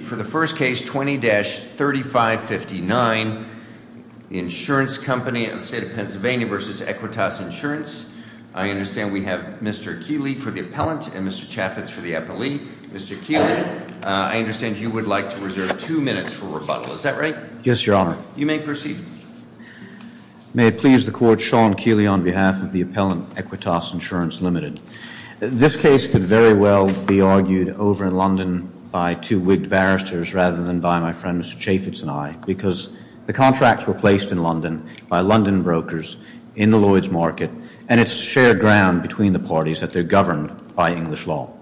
For the first case, 20-3559, Insurance Company of the State of Pennsylvania v. Equitas Insurance. I understand we have Mr. Keeley for the appellant and Mr. Chaffetz for the appellee. Mr. Keeley, I understand you would like to reserve two minutes for rebuttal, is that right? Yes, your honor. You may proceed. May it please the court, Sean Keeley on behalf of the appellant Equitas Insurance Limited. This case could very well be argued over in London by two wigged barristers rather than by my friend Mr. Chaffetz and I. Because the contracts were placed in London by London brokers in the Lloyd's market. And it's shared ground between the parties that they're governed by English law.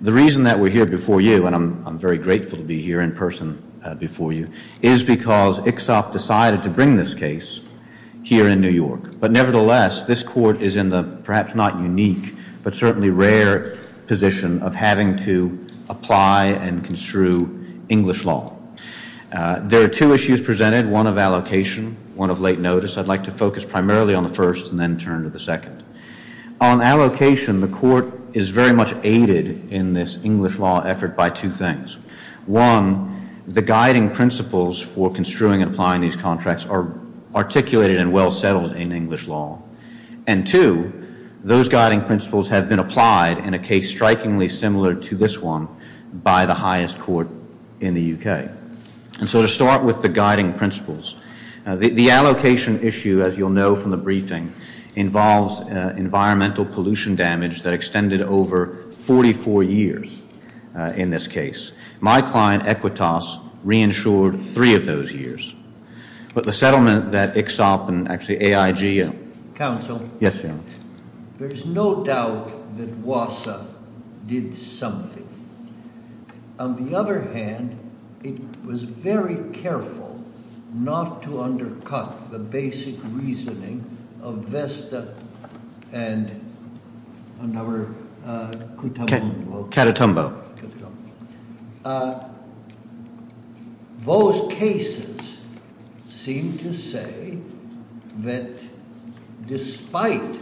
The reason that we're here before you, and I'm very grateful to be here in person before you, is because Ixop decided to bring this case here in New York. But nevertheless, this court is in the perhaps not unique, but certainly rare position of having to apply and construe English law. There are two issues presented, one of allocation, one of late notice. I'd like to focus primarily on the first and then turn to the second. On allocation, the court is very much aided in this English law effort by two things. One, the guiding principles for construing and applying these contracts are articulated and well settled in English law. And two, those guiding principles have been applied in a case strikingly similar to this one by the highest court in the UK. And so to start with the guiding principles, the allocation issue, as you'll know from the briefing, involves environmental pollution damage that extended over 44 years in this case. My client, Equitas, reinsured three of those years. But the settlement that Ixop and actually AIG- Council. Yes, sir. There's no doubt that WASA did something. On the other hand, it was very careful not to invest and another- Catatumbo. Catatumbo. Those cases seem to say that despite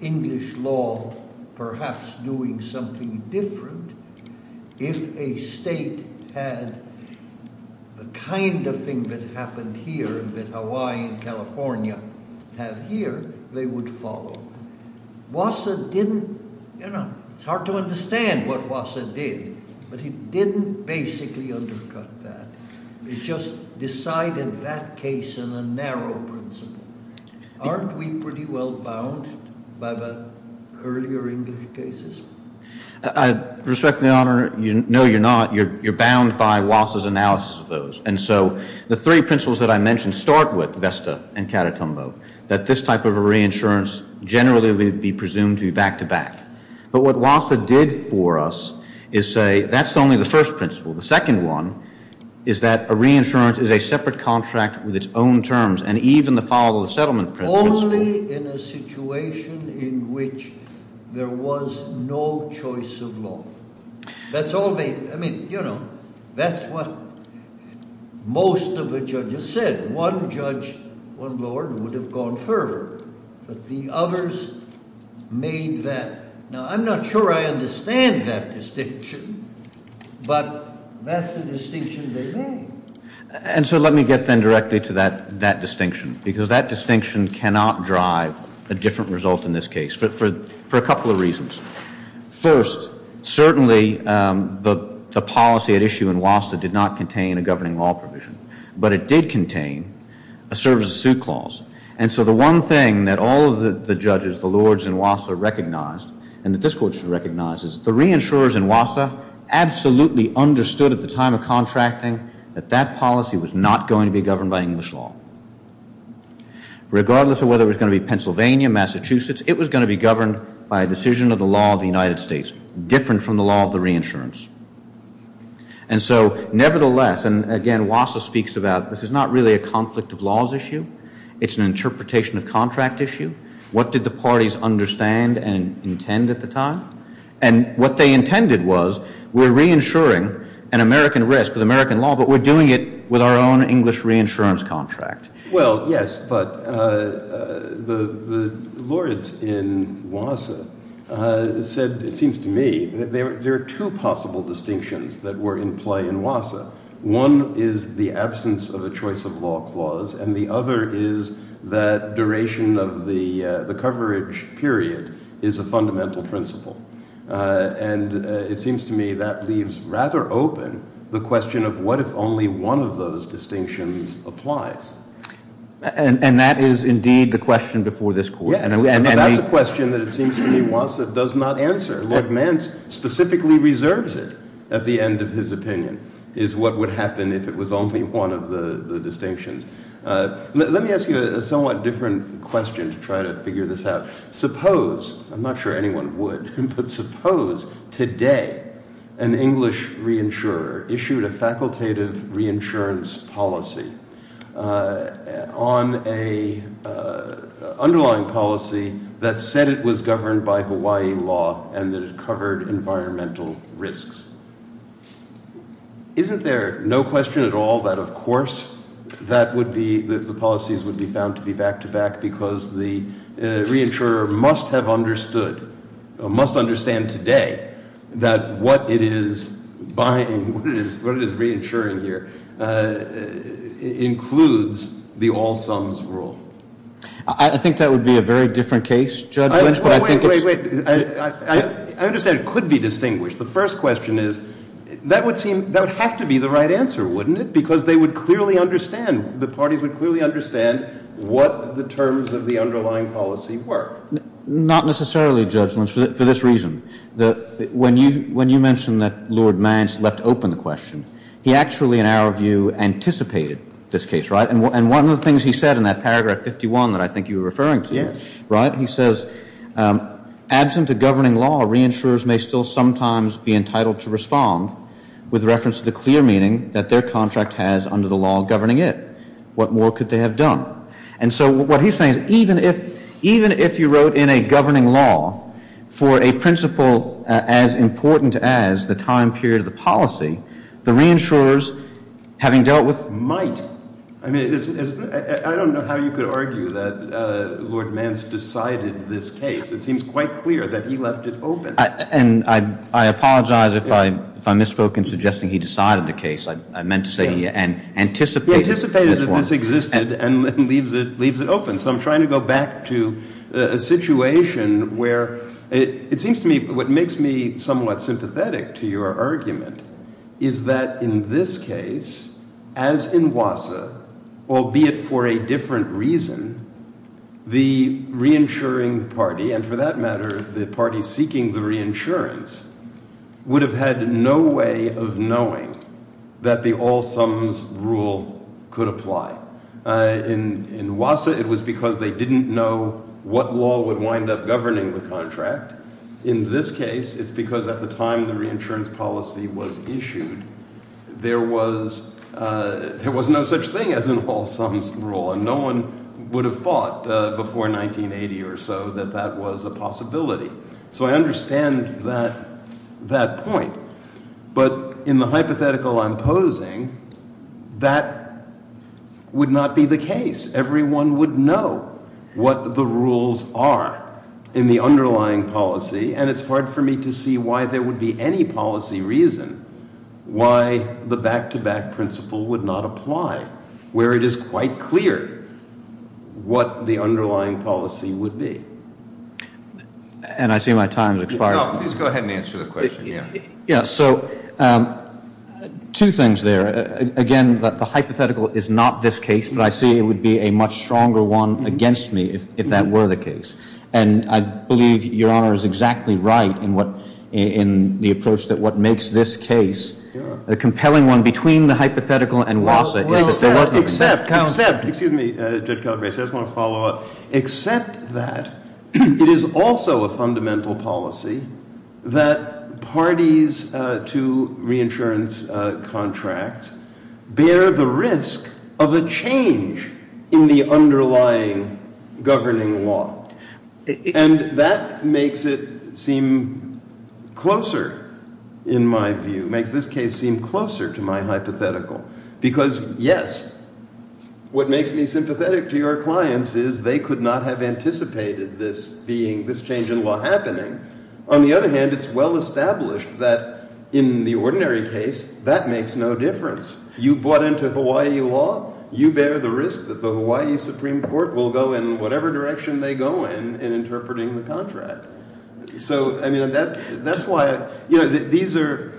English law perhaps doing something different if a state had the kind of thing that happened here, that Hawaii and California have here, they would follow. WASA didn't, it's hard to understand what WASA did, but it didn't basically undercut that. It just decided that case in a narrow principle. Aren't we pretty well bound by the earlier English cases? I respect the honor, no you're not, you're bound by WASA's analysis of those. And so the three principles that I mentioned start with VESTA and Catatumbo, that this type of a reinsurance generally would be presumed to be back to back. But what WASA did for us is say, that's only the first principle. The second one is that a reinsurance is a separate contract with its own terms. And even the follow the settlement principle- Was no choice of law. That's all they, I mean, you know, that's what most of the judges said. One judge, one lord, would have gone further, but the others made that. Now, I'm not sure I understand that distinction, but that's the distinction they made. And so let me get then directly to that distinction, because that distinction cannot drive a different result in this case, for a couple of reasons. First, certainly the policy at issue in WASA did not contain a governing law provision, but it did contain a service suit clause. And so the one thing that all of the judges, the lords in WASA recognized, and that this court should recognize, is the reinsurers in WASA absolutely understood at the time of contracting that that policy was not going to be governed by English law. Regardless of whether it was going to be Pennsylvania, Massachusetts, it was going to be governed by a decision of the law of the United States, different from the law of the reinsurance. And so, nevertheless, and again, WASA speaks about this is not really a conflict of laws issue. It's an interpretation of contract issue. What did the parties understand and intend at the time? And what they intended was, we're reinsuring an American risk with American law, but we're doing it with our own English reinsurance contract. Well, yes, but the lords in WASA said, it seems to me, that there are two possible distinctions that were in play in WASA. One is the absence of a choice of law clause, and the other is that duration of the coverage period is a fundamental principle. And it seems to me that leaves rather open the question of what if only one of those distinctions applies. And that is indeed the question before this court. Yes, but that's a question that it seems to me WASA does not answer. Lord Mance specifically reserves it at the end of his opinion, is what would happen if it was only one of the distinctions. Let me ask you a somewhat different question to try to figure this out. Suppose, I'm not sure anyone would, but suppose today an English reinsurer issued a facultative reinsurance policy on an underlying policy that said it was governed by Hawaii law and that it covered environmental risks. Isn't there no question at all that of course that would be, that the policies would be found to be back to back because the reinsurer must have understood, must understand today that what it is buying, what it is reinsuring here includes the all sums rule? I think that would be a very different case, Judge Lynch, but I think it's... Wait, wait, wait, I understand it could be distinguished. The first question is, that would seem, that would have to be the right answer, wouldn't it? Because they would clearly understand, the parties would clearly understand what the terms of the underlying policy were. Not necessarily, Judge Lynch, for this reason. When you mentioned that Lord Mance left open the question, he actually, in our view, anticipated this case, right? And one of the things he said in that paragraph 51 that I think you were referring to, right? He says, absent a governing law, reinsurers may still sometimes be entitled to respond with reference to the clear meaning that their contract has under the law governing it. What more could they have done? And so what he's saying is, even if you wrote in a governing law for a principle as important as the time period of the policy, the reinsurers, having dealt with... I mean, I don't know how you could argue that Lord Mance decided this case. It seems quite clear that he left it open. And I apologize if I misspoke in suggesting he decided the case. I meant to say he anticipated... He anticipated that this existed and leaves it open. So I'm trying to go back to a situation where, it seems to me, what makes me somewhat sympathetic to your argument is that in this case, as in WASA, albeit for a different reason, the reinsuring party, and for that matter, the party seeking the reinsurance, would have had no way of knowing that the all sums rule could apply. In WASA, it was because they didn't know what law would wind up governing the contract. In this case, it's because at the time the reinsurance policy was issued, there was no such thing as an all sums rule. And no one would have thought before 1980 or so that that was a possibility. So I understand that point. But in the hypothetical I'm posing, that would not be the case. Everyone would know what the rules are in the underlying policy. And it's hard for me to see why there would be any policy reason why the back to back principle would not apply, where it is quite clear what the underlying policy would be. And I see my time has expired. No, please go ahead and answer the question, yeah. Yeah, so two things there. Again, the hypothetical is not this case. But I see it would be a much stronger one against me if that were the case. And I believe Your Honor is exactly right in the approach that what makes this case a compelling one between the hypothetical and WASA. Well, except, excuse me Judge Calabresi, I just want to follow up. Except that it is also a fundamental policy that parties to reinsurance contracts bear the risk of a change in the underlying governing law. And that makes it seem closer in my view, makes this case seem closer to my hypothetical. Because yes, what makes me sympathetic to your clients is they could not have anticipated this being, this change in law happening. On the other hand, it's well established that in the ordinary case, that makes no difference. You bought into Hawaii law, you bear the risk that the Hawaii Supreme Court will go in whatever direction they go in in interpreting the contract. So, I mean, that's why, you know, these are,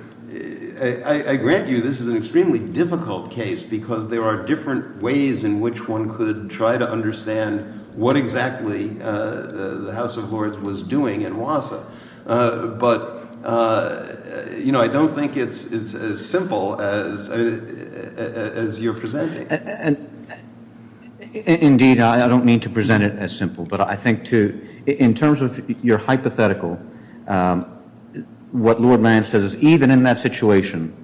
I grant you, this is an extremely difficult case because there are different ways in which one could try to understand what exactly the House of Lords was doing in WASA. But, you know, I don't think it's as simple as you're presenting. Indeed, I don't mean to present it as simple, but I think to, in terms of your hypothetical, what Lord Mariam says is even in that situation,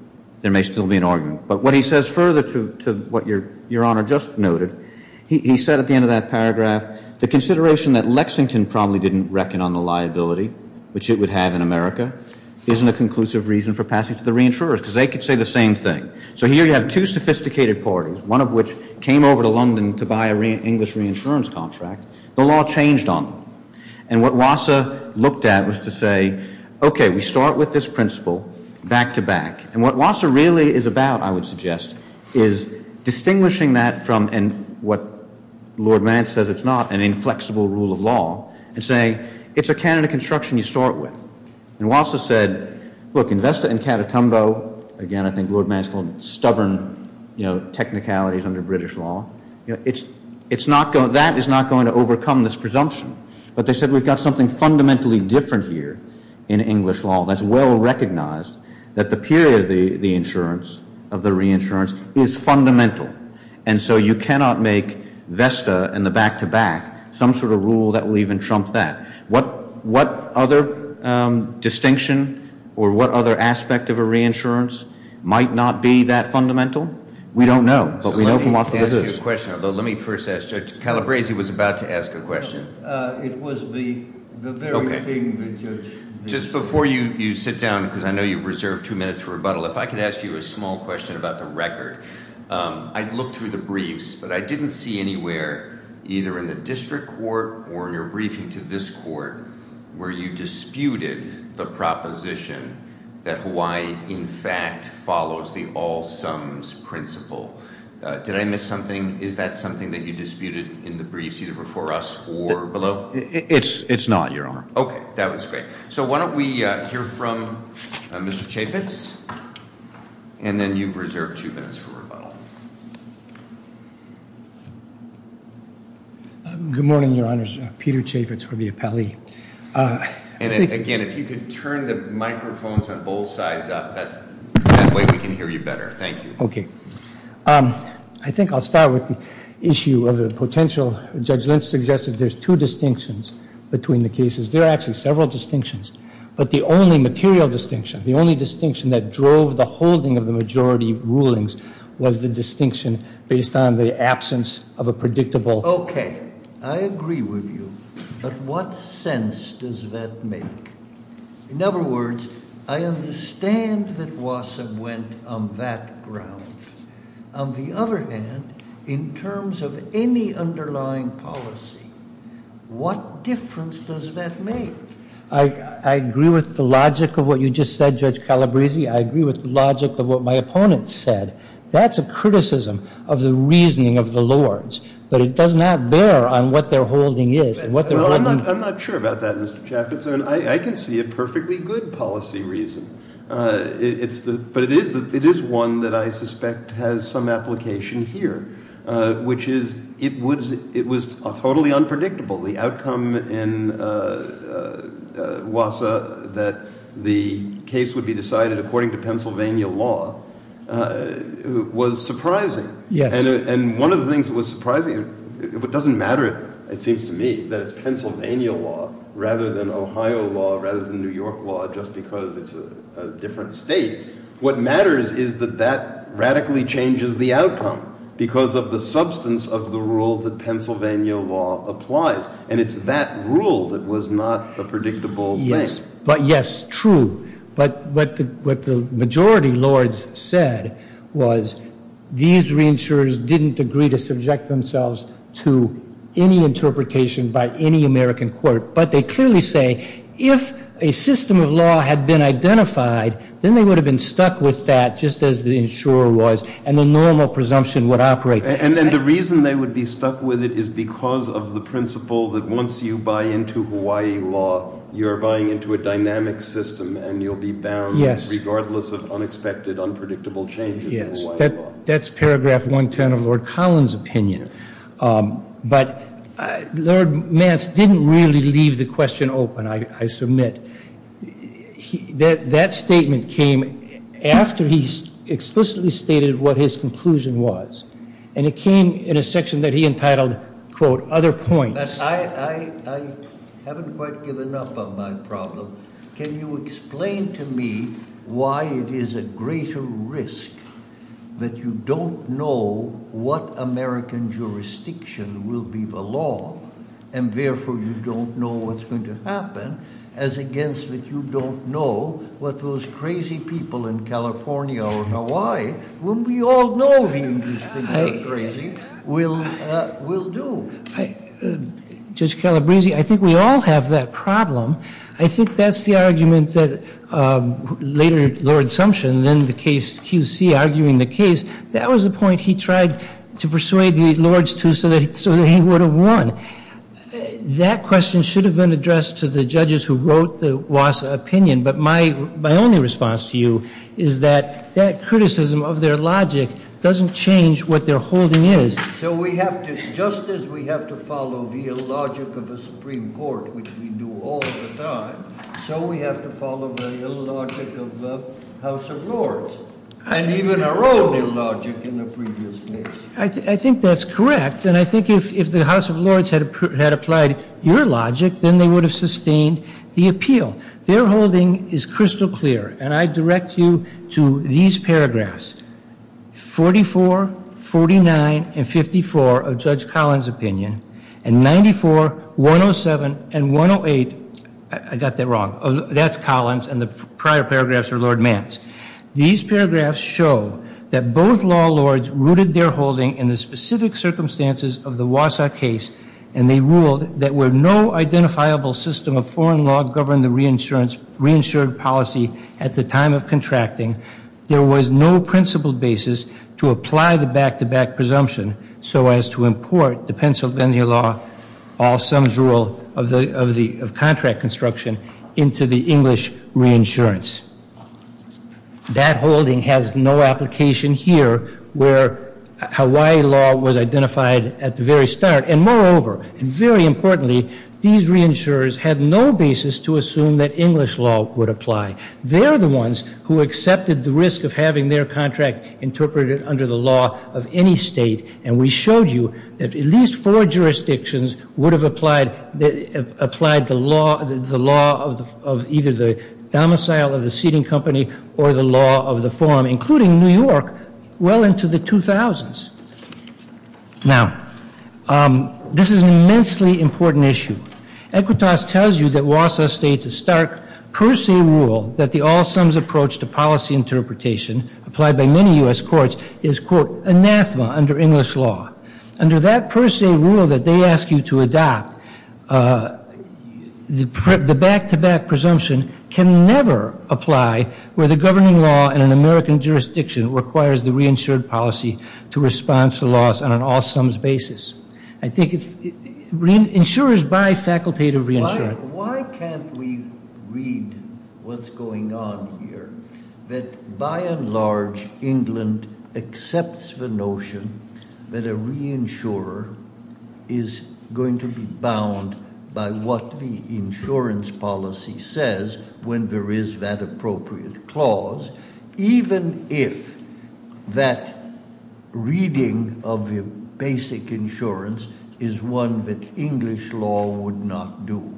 there may still be an argument. But what he says further to what your Honor just noted, he said at the end of that paragraph, the consideration that Lexington probably didn't reckon on the liability, which it would have in America, isn't a conclusive reason for passing to the reinsurers because they could say the same thing. So here you have two sophisticated parties, one of which came over to London to buy an English reinsurance contract. The law changed on them. And what WASA looked at was to say, okay, we start with this principle back to back. And what WASA really is about, I would suggest, is distinguishing that from, and what Lord Mance says it's not, an inflexible rule of law, and saying, it's a canon of construction you start with. And WASA said, look, invest it in Catatumbo. Again, I think Lord Mance called it stubborn, you know, technicalities under British law. You know, that is not going to overcome this presumption. But they said we've got something fundamentally different here in English law that's well recognized that the period of the reinsurance is fundamental. And so you cannot make VESTA and the back to back some sort of rule that will even trump that. What other distinction or what other aspect of a reinsurance might not be that fundamental? We don't know, but we know from WASA that it is. Let me first ask, Judge Calabresi was about to ask a question. It was the very thing the judge. Just before you sit down, because I know you've reserved two minutes for rebuttal, if I could ask you a small question about the record. I'd look through the briefs, but I didn't see anywhere, either in the district court or in your briefing to this court, where you disputed the proposition that Hawaii, in fact, follows the all sums principle. Did I miss something? Is that something that you disputed in the briefs either before us or below? It's not, Your Honor. OK, that was great. So why don't we hear from Mr. Chaffetz, and then you've reserved two minutes for rebuttal. Good morning, Your Honors. Peter Chaffetz for the appellee. And again, if you could turn the microphones on both sides up, that way we can hear you better. Thank you. OK. I think I'll start with the issue of the potential, Judge Lynch suggested there's two distinctions between the cases. There are actually several distinctions. But the only material distinction, the only distinction that drove the holding of the majority rulings was the distinction based on the absence of a predictable. OK, I agree with you. But what sense does that make? In other words, I understand that Wasseb went on that ground. On the other hand, in terms of any underlying policy, what difference does that make? I agree with the logic of what you just said, Judge Calabresi. I agree with the logic of what my opponent said. That's a criticism of the reasoning of the Lords. But it does not bear on what their holding is and what they're holding. I'm not sure about that, Mr. Chaffetz. I can see a perfectly good policy reason. But it is one that I suspect has some application here, which is it was totally unpredictable. The outcome in Wasseb, that the case would be decided according to Pennsylvania law, was surprising. And one of the things that was surprising, it doesn't matter, it seems to me, that it's Pennsylvania law rather than Ohio law, rather than New York law, just because it's a different state. What matters is that that radically changes the outcome because of the substance of the rule that Pennsylvania law applies. And it's that rule that was not a predictable thing. But yes, true. But what the majority Lords said was these reinsurers didn't agree to subject themselves to any interpretation by any American court. But they clearly say, if a system of law had been identified, then they would have been stuck with that just as the insurer was and the normal presumption would operate. And then the reason they would be stuck with it is because of the principle that once you buy into Hawaii law, you're buying into a dynamic system and you'll be bound regardless of unexpected, unpredictable changes in Hawaii law. That's paragraph 110 of Lord Collins' opinion. But Lord Mance didn't really leave the question open, I submit. That statement came after he explicitly stated what his conclusion was. And it came in a section that he entitled, quote, other points. But I haven't quite given up on my problem. Can you explain to me why it is a greater risk that you don't know what American jurisdiction will be the law, and therefore you don't know what's going to happen, as against that you don't know what those crazy people in California or Hawaii, whom we all know the English people are crazy, will do? Judge Calabresi, I think we all have that problem. I think that's the argument that later, Lord Sumption, then QC, arguing the case, that was the point he tried to persuade the Lords to so that he would have won. That question should have been addressed to the judges who wrote the WASA opinion. But my only response to you is that that criticism of their logic doesn't change what their holding is. So we have to, just as we have to follow the illogic of a Supreme Court, which we do all the time, so we have to follow the illogic of the House of Lords, and even our own illogic in the previous case. I think that's correct. And I think if the House of Lords had applied your logic, then they would have sustained the appeal. Their holding is crystal clear. And I direct you to these paragraphs, 44, 49, and 54 of Judge Collins' opinion, and 94, 107, and 108. I got that wrong. That's Collins, and the prior paragraphs are Lord Mantz. These paragraphs show that both law lords rooted their holding in the specific circumstances of the WASA case. And they ruled that where no identifiable system of foreign law governed the reinsured policy at the time of contracting, there was no principled basis to apply the back-to-back presumption so as to import the Pennsylvania law, all sums rule, of contract construction into the English reinsurance. That holding has no application here where Hawaii law was identified at the very start. And moreover, and very importantly, these reinsurers had no basis to assume that English law would apply. They're the ones who accepted the risk of having their contract interpreted under the law of any state. And we showed you that at least four jurisdictions would have applied the law of either the domicile of the seating company or the law of the forum, including New York, well into the 2000s. Now, this is an immensely important issue. Equitas tells you that WASA states a stark per se rule that the all sums approach to policy interpretation, applied by many US courts, is, quote, anathema under English law. Under that per se rule that they ask you to adopt, the back-to-back presumption can never apply where the governing law in an American jurisdiction requires the reinsured policy to respond to the laws on an all sums basis. I think it's insurers by facultative reinsurance. Why can't we read what's going on here, that by and large, England accepts the notion that a reinsurer is going to be bound by what the insurance policy says when there is that appropriate clause, even if that reading of the basic insurance is one that English law would not do.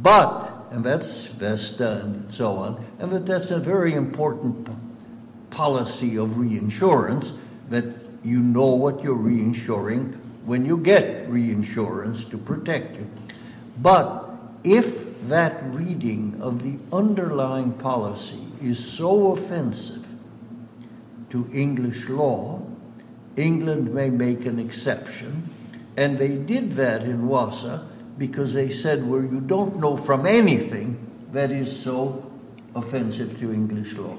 But, and that's Vesta and so on, and that that's a very important policy of reinsurance that you know what you're reinsuring when you get reinsurance to protect you. But if that reading of the underlying policy is so offensive to English law, England may make an exception. And they did that in WASA because they said, well, you don't know from anything that is so offensive to English law.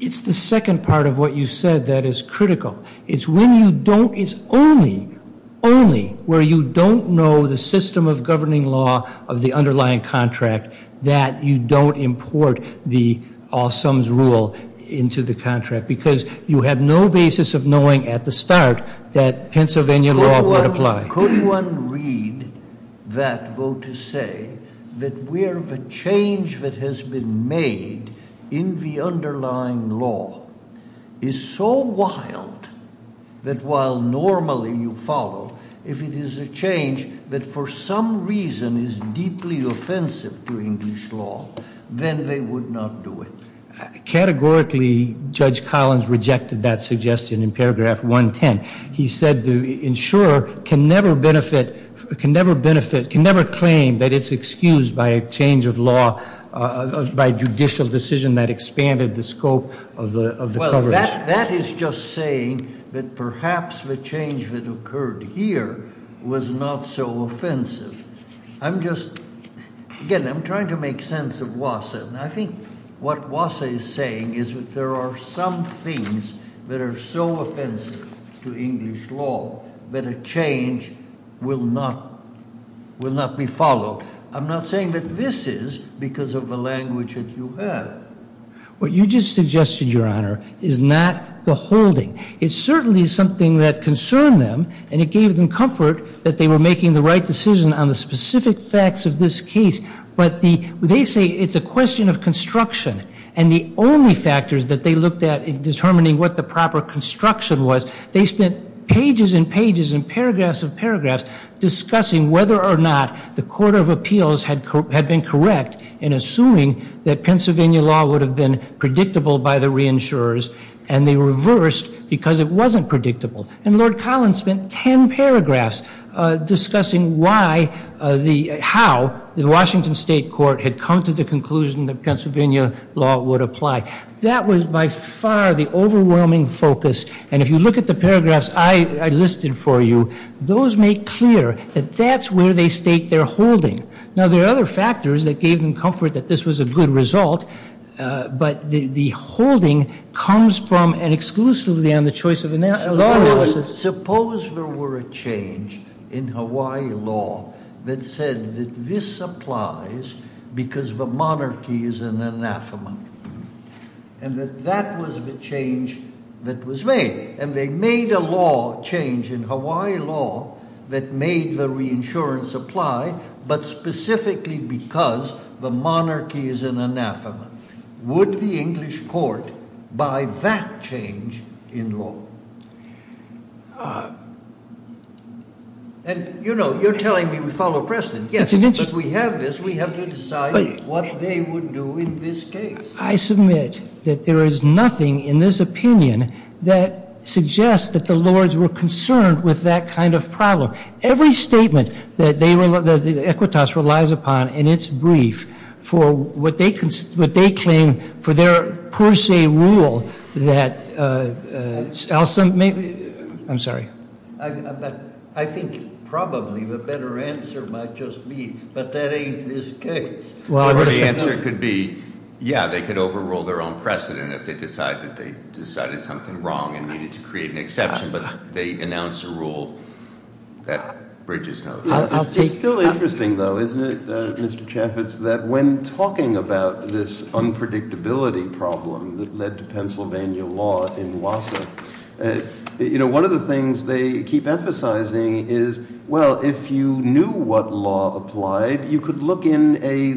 It's the second part of what you said that is critical. It's when you don't, it's only, only where you don't know the system of governing law of the underlying contract that you don't import the all sums rule into the contract because you have no basis of knowing at the start that Pennsylvania law would apply. Could one read that vote to say that we underlying law is so wild that while normally you follow, if it is a change that for some reason is deeply offensive to English law, then they would not do it. Categorically, Judge Collins rejected that suggestion in paragraph 110. He said the insurer can never benefit, can never benefit, can never claim that it's excused by a change of law, by judicial decision that expanded the scope of the coverage. That is just saying that perhaps the change that occurred here was not so offensive. I'm just, again, I'm trying to make sense of WASA. I think what WASA is saying is that there are some things that are so offensive to English law that a change will not, will not be followed. I'm not saying that this is because of the language that you have. What you just suggested, Your Honor, is not the holding. It certainly is something that concerned them and it gave them comfort that they were making the right decision on the specific facts of this case. But they say it's a question of construction. And the only factors that they looked at in determining what the proper construction was, they spent pages and pages and paragraphs of paragraphs discussing whether or not the Court of Appeals had been correct in assuming that Pennsylvania law would have been predictable by the reinsurers. And they reversed because it wasn't predictable. And Lord Collins spent 10 paragraphs discussing why the, how the Washington State Court had come to the conclusion that Pennsylvania law would apply. That was by far the overwhelming focus. And if you look at the paragraphs I listed for you, those make clear that that's where they stake their holding. Now, there are other factors that gave them comfort that this was a good result. But the holding comes from and exclusively on the choice of law enforcers. Suppose there were a change in Hawaii law that said that this applies because the monarchy is an anathema. And that that was the change that was made. And they made a law change in Hawaii law that made the reinsurance apply, but specifically because the monarchy is an anathema. Would the English court buy that change in law? And you know, you're telling me we follow precedent. Yes, but we have this, we have to decide what they would do in this case. I submit that there is nothing in this opinion that suggests that the Lords were concerned with that kind of problem. Every statement that the Equitas relies upon in its brief for what they claim for their per se rule that, Alson, maybe, I'm sorry. I think probably the better answer might just be, but that ain't this case. Well, the answer could be, yeah, they could overrule their own precedent if they decide that they decided something wrong and needed to create an exception, but they announced a rule that bridges those. I'll take that. It's still interesting though, isn't it, Mr. Chaffetz, that when talking about this unpredictability problem that led to Pennsylvania law in WASA, you know, one of the things they keep emphasizing is, well, if you knew what law applied, you could look in a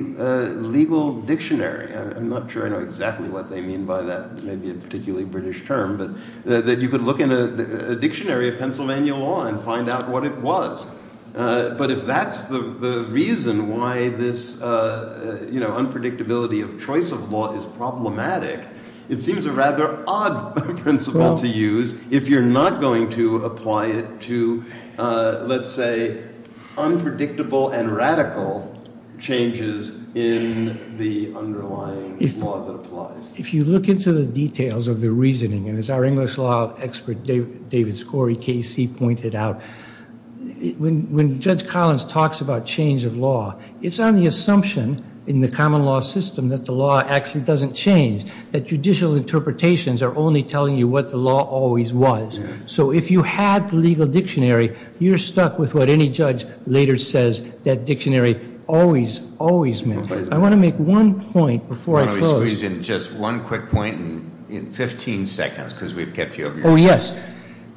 legal dictionary. I'm not sure I know exactly what they mean by that. Maybe a particularly British term, but that you could look in a dictionary of Pennsylvania law and find out what it was. But if that's the reason why this, you know, unpredictability of choice of law is problematic, it seems a rather odd principle to use if you're not going to apply it to, let's say, unpredictable and radical changes in the underlying law that applies. If you look into the details of the reasoning, and as our English law expert, David Scori, KC, pointed out, when Judge Collins talks about change of law, it's on the assumption in the common law system that the law actually doesn't change, that judicial interpretations are only telling you what the law always was. So if you had the legal dictionary, you're stuck with what any judge later says, that dictionary always, always meant. I want to make one point before I close. So he's in just one quick point in 15 seconds, because we've kept you over. Oh, yes.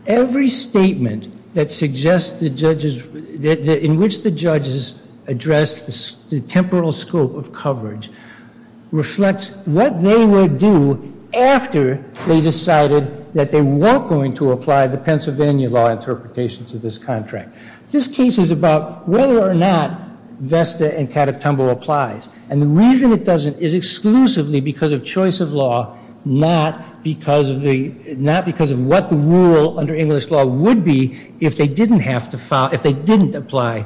Every statement that suggests the judges, in which the judges address the temporal scope of coverage reflects what they would do after they decided that they were going to apply the Pennsylvania law interpretation to this contract. This case is about whether or not Vesta and Catatumbo applies. And the reason it doesn't is exclusively because of choice of law, not because of what the rule under English law would be if they didn't apply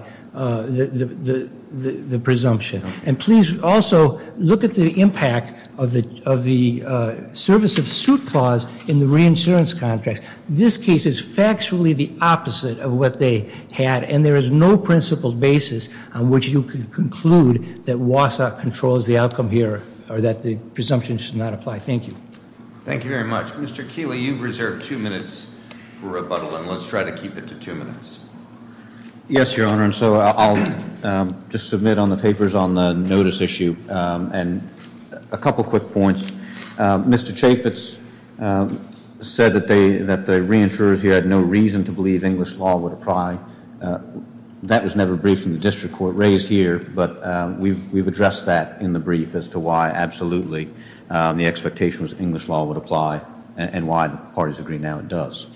the presumption. And please also look at the impact of the service of suit clause in the reinsurance contract. This case is factually the opposite of what they had, and there is no principled basis on which you can conclude that WASA controls the outcome here, or that the presumption should not apply. Thank you. Thank you very much. Mr. Keeley, you've reserved two minutes for rebuttal, and let's try to keep it to two minutes. Yes, Your Honor, and so I'll just submit on the papers on the notice issue, and a couple quick points. Mr. Chaffetz said that the reinsurers here had no reason to believe English law would apply. That was never briefed in the district court raised here, but we've addressed that in the brief as to why absolutely the expectation was English law would apply, and why the parties agree now it does.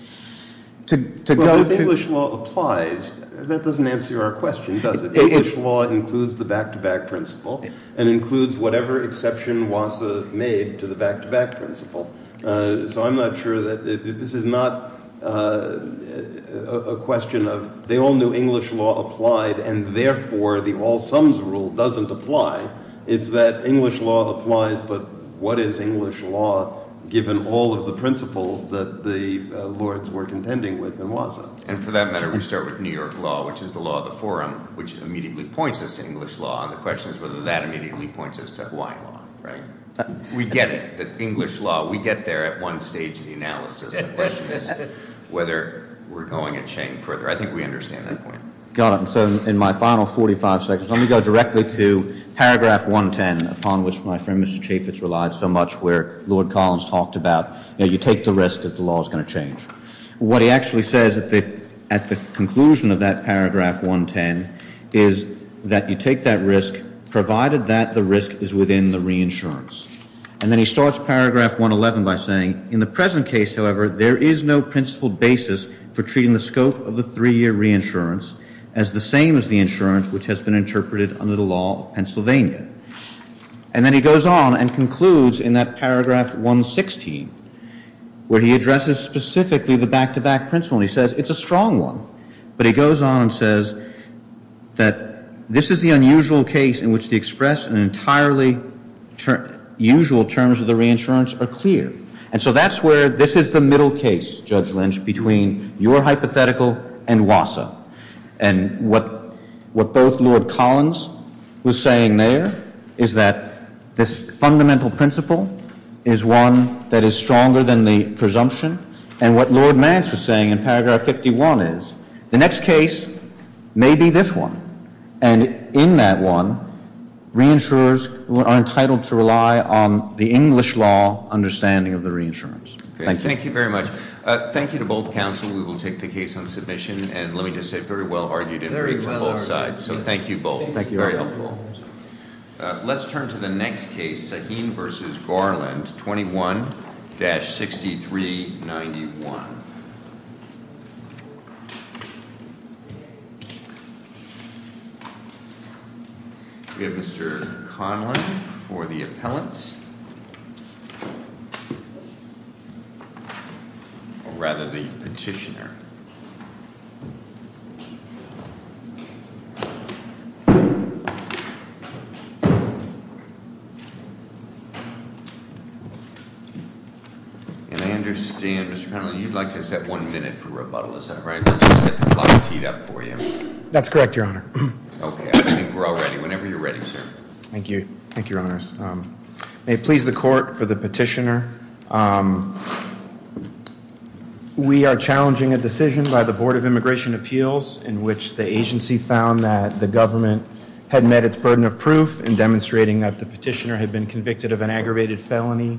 Well, if English law applies, that doesn't answer our question, does it? English law includes the back-to-back principle, and includes whatever exception WASA made to the back-to-back principle. So I'm not sure that this is not a question of they all knew English law applied, and therefore the all-sums rule doesn't apply. It's that English law applies, but what is English law given all of the principles that the Lords were contending with in WASA? And for that matter, we start with New York law, which is the law of the forum, which immediately points us to English law, and the question is whether that immediately points us to Hawaiian law, right? We get it, that English law, we get there at one stage of the analysis, the question is whether we're going a chain further. I think we understand that point. Got it, and so in my final 45 seconds, let me go directly to paragraph 110, upon which my friend Mr. Chaffetz relied so much, where Lord Collins talked about, you take the risk that the law's gonna change. What he actually says at the conclusion of that paragraph 110 is that you take that risk, provided that the risk is within the reinsurance. And then he starts paragraph 111 by saying, in the present case, however, there is no principled basis for treating the scope of the three-year reinsurance as the same as the insurance which has been interpreted under the law of Pennsylvania. And then he goes on and concludes in that paragraph 116, where he addresses specifically the back-to-back principle. He says, it's a strong one, but he goes on and says that this is the unusual case in which the expressed and entirely usual terms of the reinsurance are clear. And so that's where this is the middle case, Judge Lynch, between your hypothetical and WASA. And what both Lord Collins was saying there is that this fundamental principle is one that is stronger than the presumption. And what Lord Mance was saying in paragraph 51 is, the next case may be this one. And in that one, reinsurers are entitled to rely on the English law understanding of the reinsurance. Thank you. Thank you very much. Thank you to both counsel. We will take the case on submission and let me just say, very well argued and agreed to both sides. So thank you both. Thank you. Very helpful. Let's turn to the next case, Sahin versus Garland, 21-6391. We have Mr. Conlon for the appellant. Or rather, the petitioner. And I understand, Mr. Conlon, you'd like to set one minute for rebuttal, is that right? Or just get the clock teed up for you? That's correct, Your Honor. OK, I think we're all ready. Whenever you're ready, sir. Thank you. Thank you, Your Honors. May it please the court for the petitioner. We are challenging a decision by the Board of Immigration Appeals in which the agency found that the government had met its burden of proof in demonstrating that the petitioner had been convicted of an aggravated felony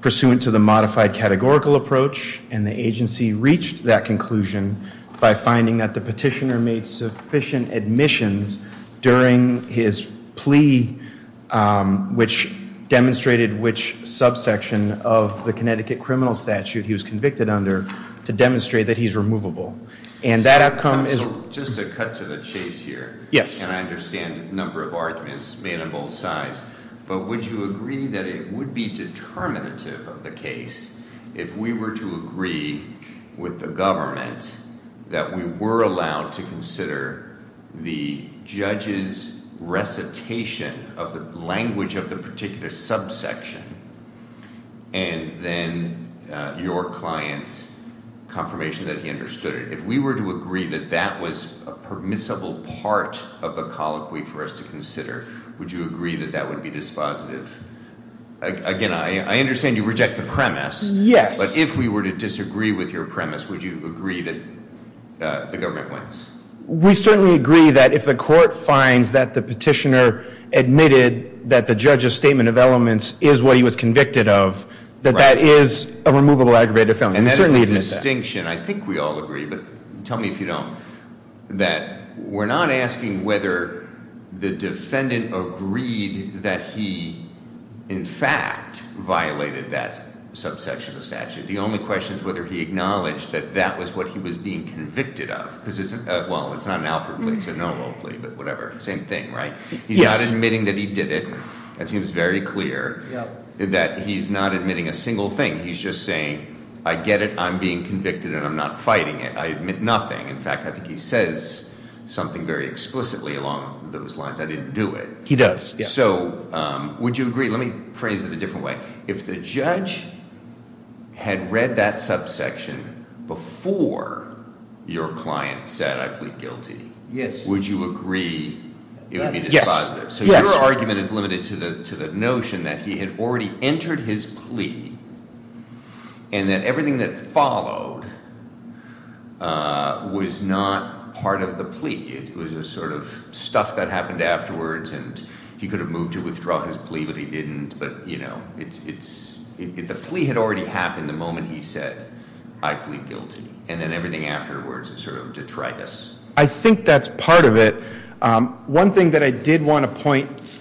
pursuant to the modified categorical approach. And the agency reached that conclusion by finding that the petitioner made sufficient admissions during his plea, which demonstrated which subsection of the Connecticut criminal statute he was convicted under, to demonstrate that he's removable. And that outcome is. Just to cut to the chase here. Yes. And I understand a number of arguments made on both sides. But would you agree that it would be determinative of the case if we were to agree with the government that we were allowed to consider the judge's recitation of the language of the particular subsection, and then your client's confirmation that he understood it? If we were to agree that that was a permissible part of the colloquy for us to consider, would you agree that that would be dispositive? Again, I understand you reject the premise. Yes. But if we were to disagree with your premise, would you agree that the government wins? We certainly agree that if the court finds that the petitioner admitted that the judge's statement of elements is what he was convicted of, that that is a removable aggravated felony. And we certainly admit that. And that is a distinction. I think we all agree. But tell me if you don't. That we're not asking whether the defendant agreed that he, in fact, violated that subsection of the statute. The only question is whether he acknowledged that that was what he was being convicted of. Because it's not an Alfred plea. It's a no-law plea. But whatever. Same thing, right? He's not admitting that he did it. That seems very clear that he's not admitting a single thing. He's just saying, I get it. I'm being convicted. And I'm not fighting it. I admit nothing. In fact, I think he says something very explicitly along those lines. I didn't do it. He does. So would you agree? Let me phrase it a different way. If the judge had read that subsection before your client said, I plead guilty, would you agree it would be dispositive? So your argument is limited to the notion that he had already entered his plea and that everything that followed was not part of the plea. It was a sort of stuff that happened afterwards. And he could have moved to withdraw his plea, but he didn't. But the plea had already happened the moment he said, I plead guilty. And then everything afterwards is sort of detritus. I think that's part of it. One thing that I did want to point.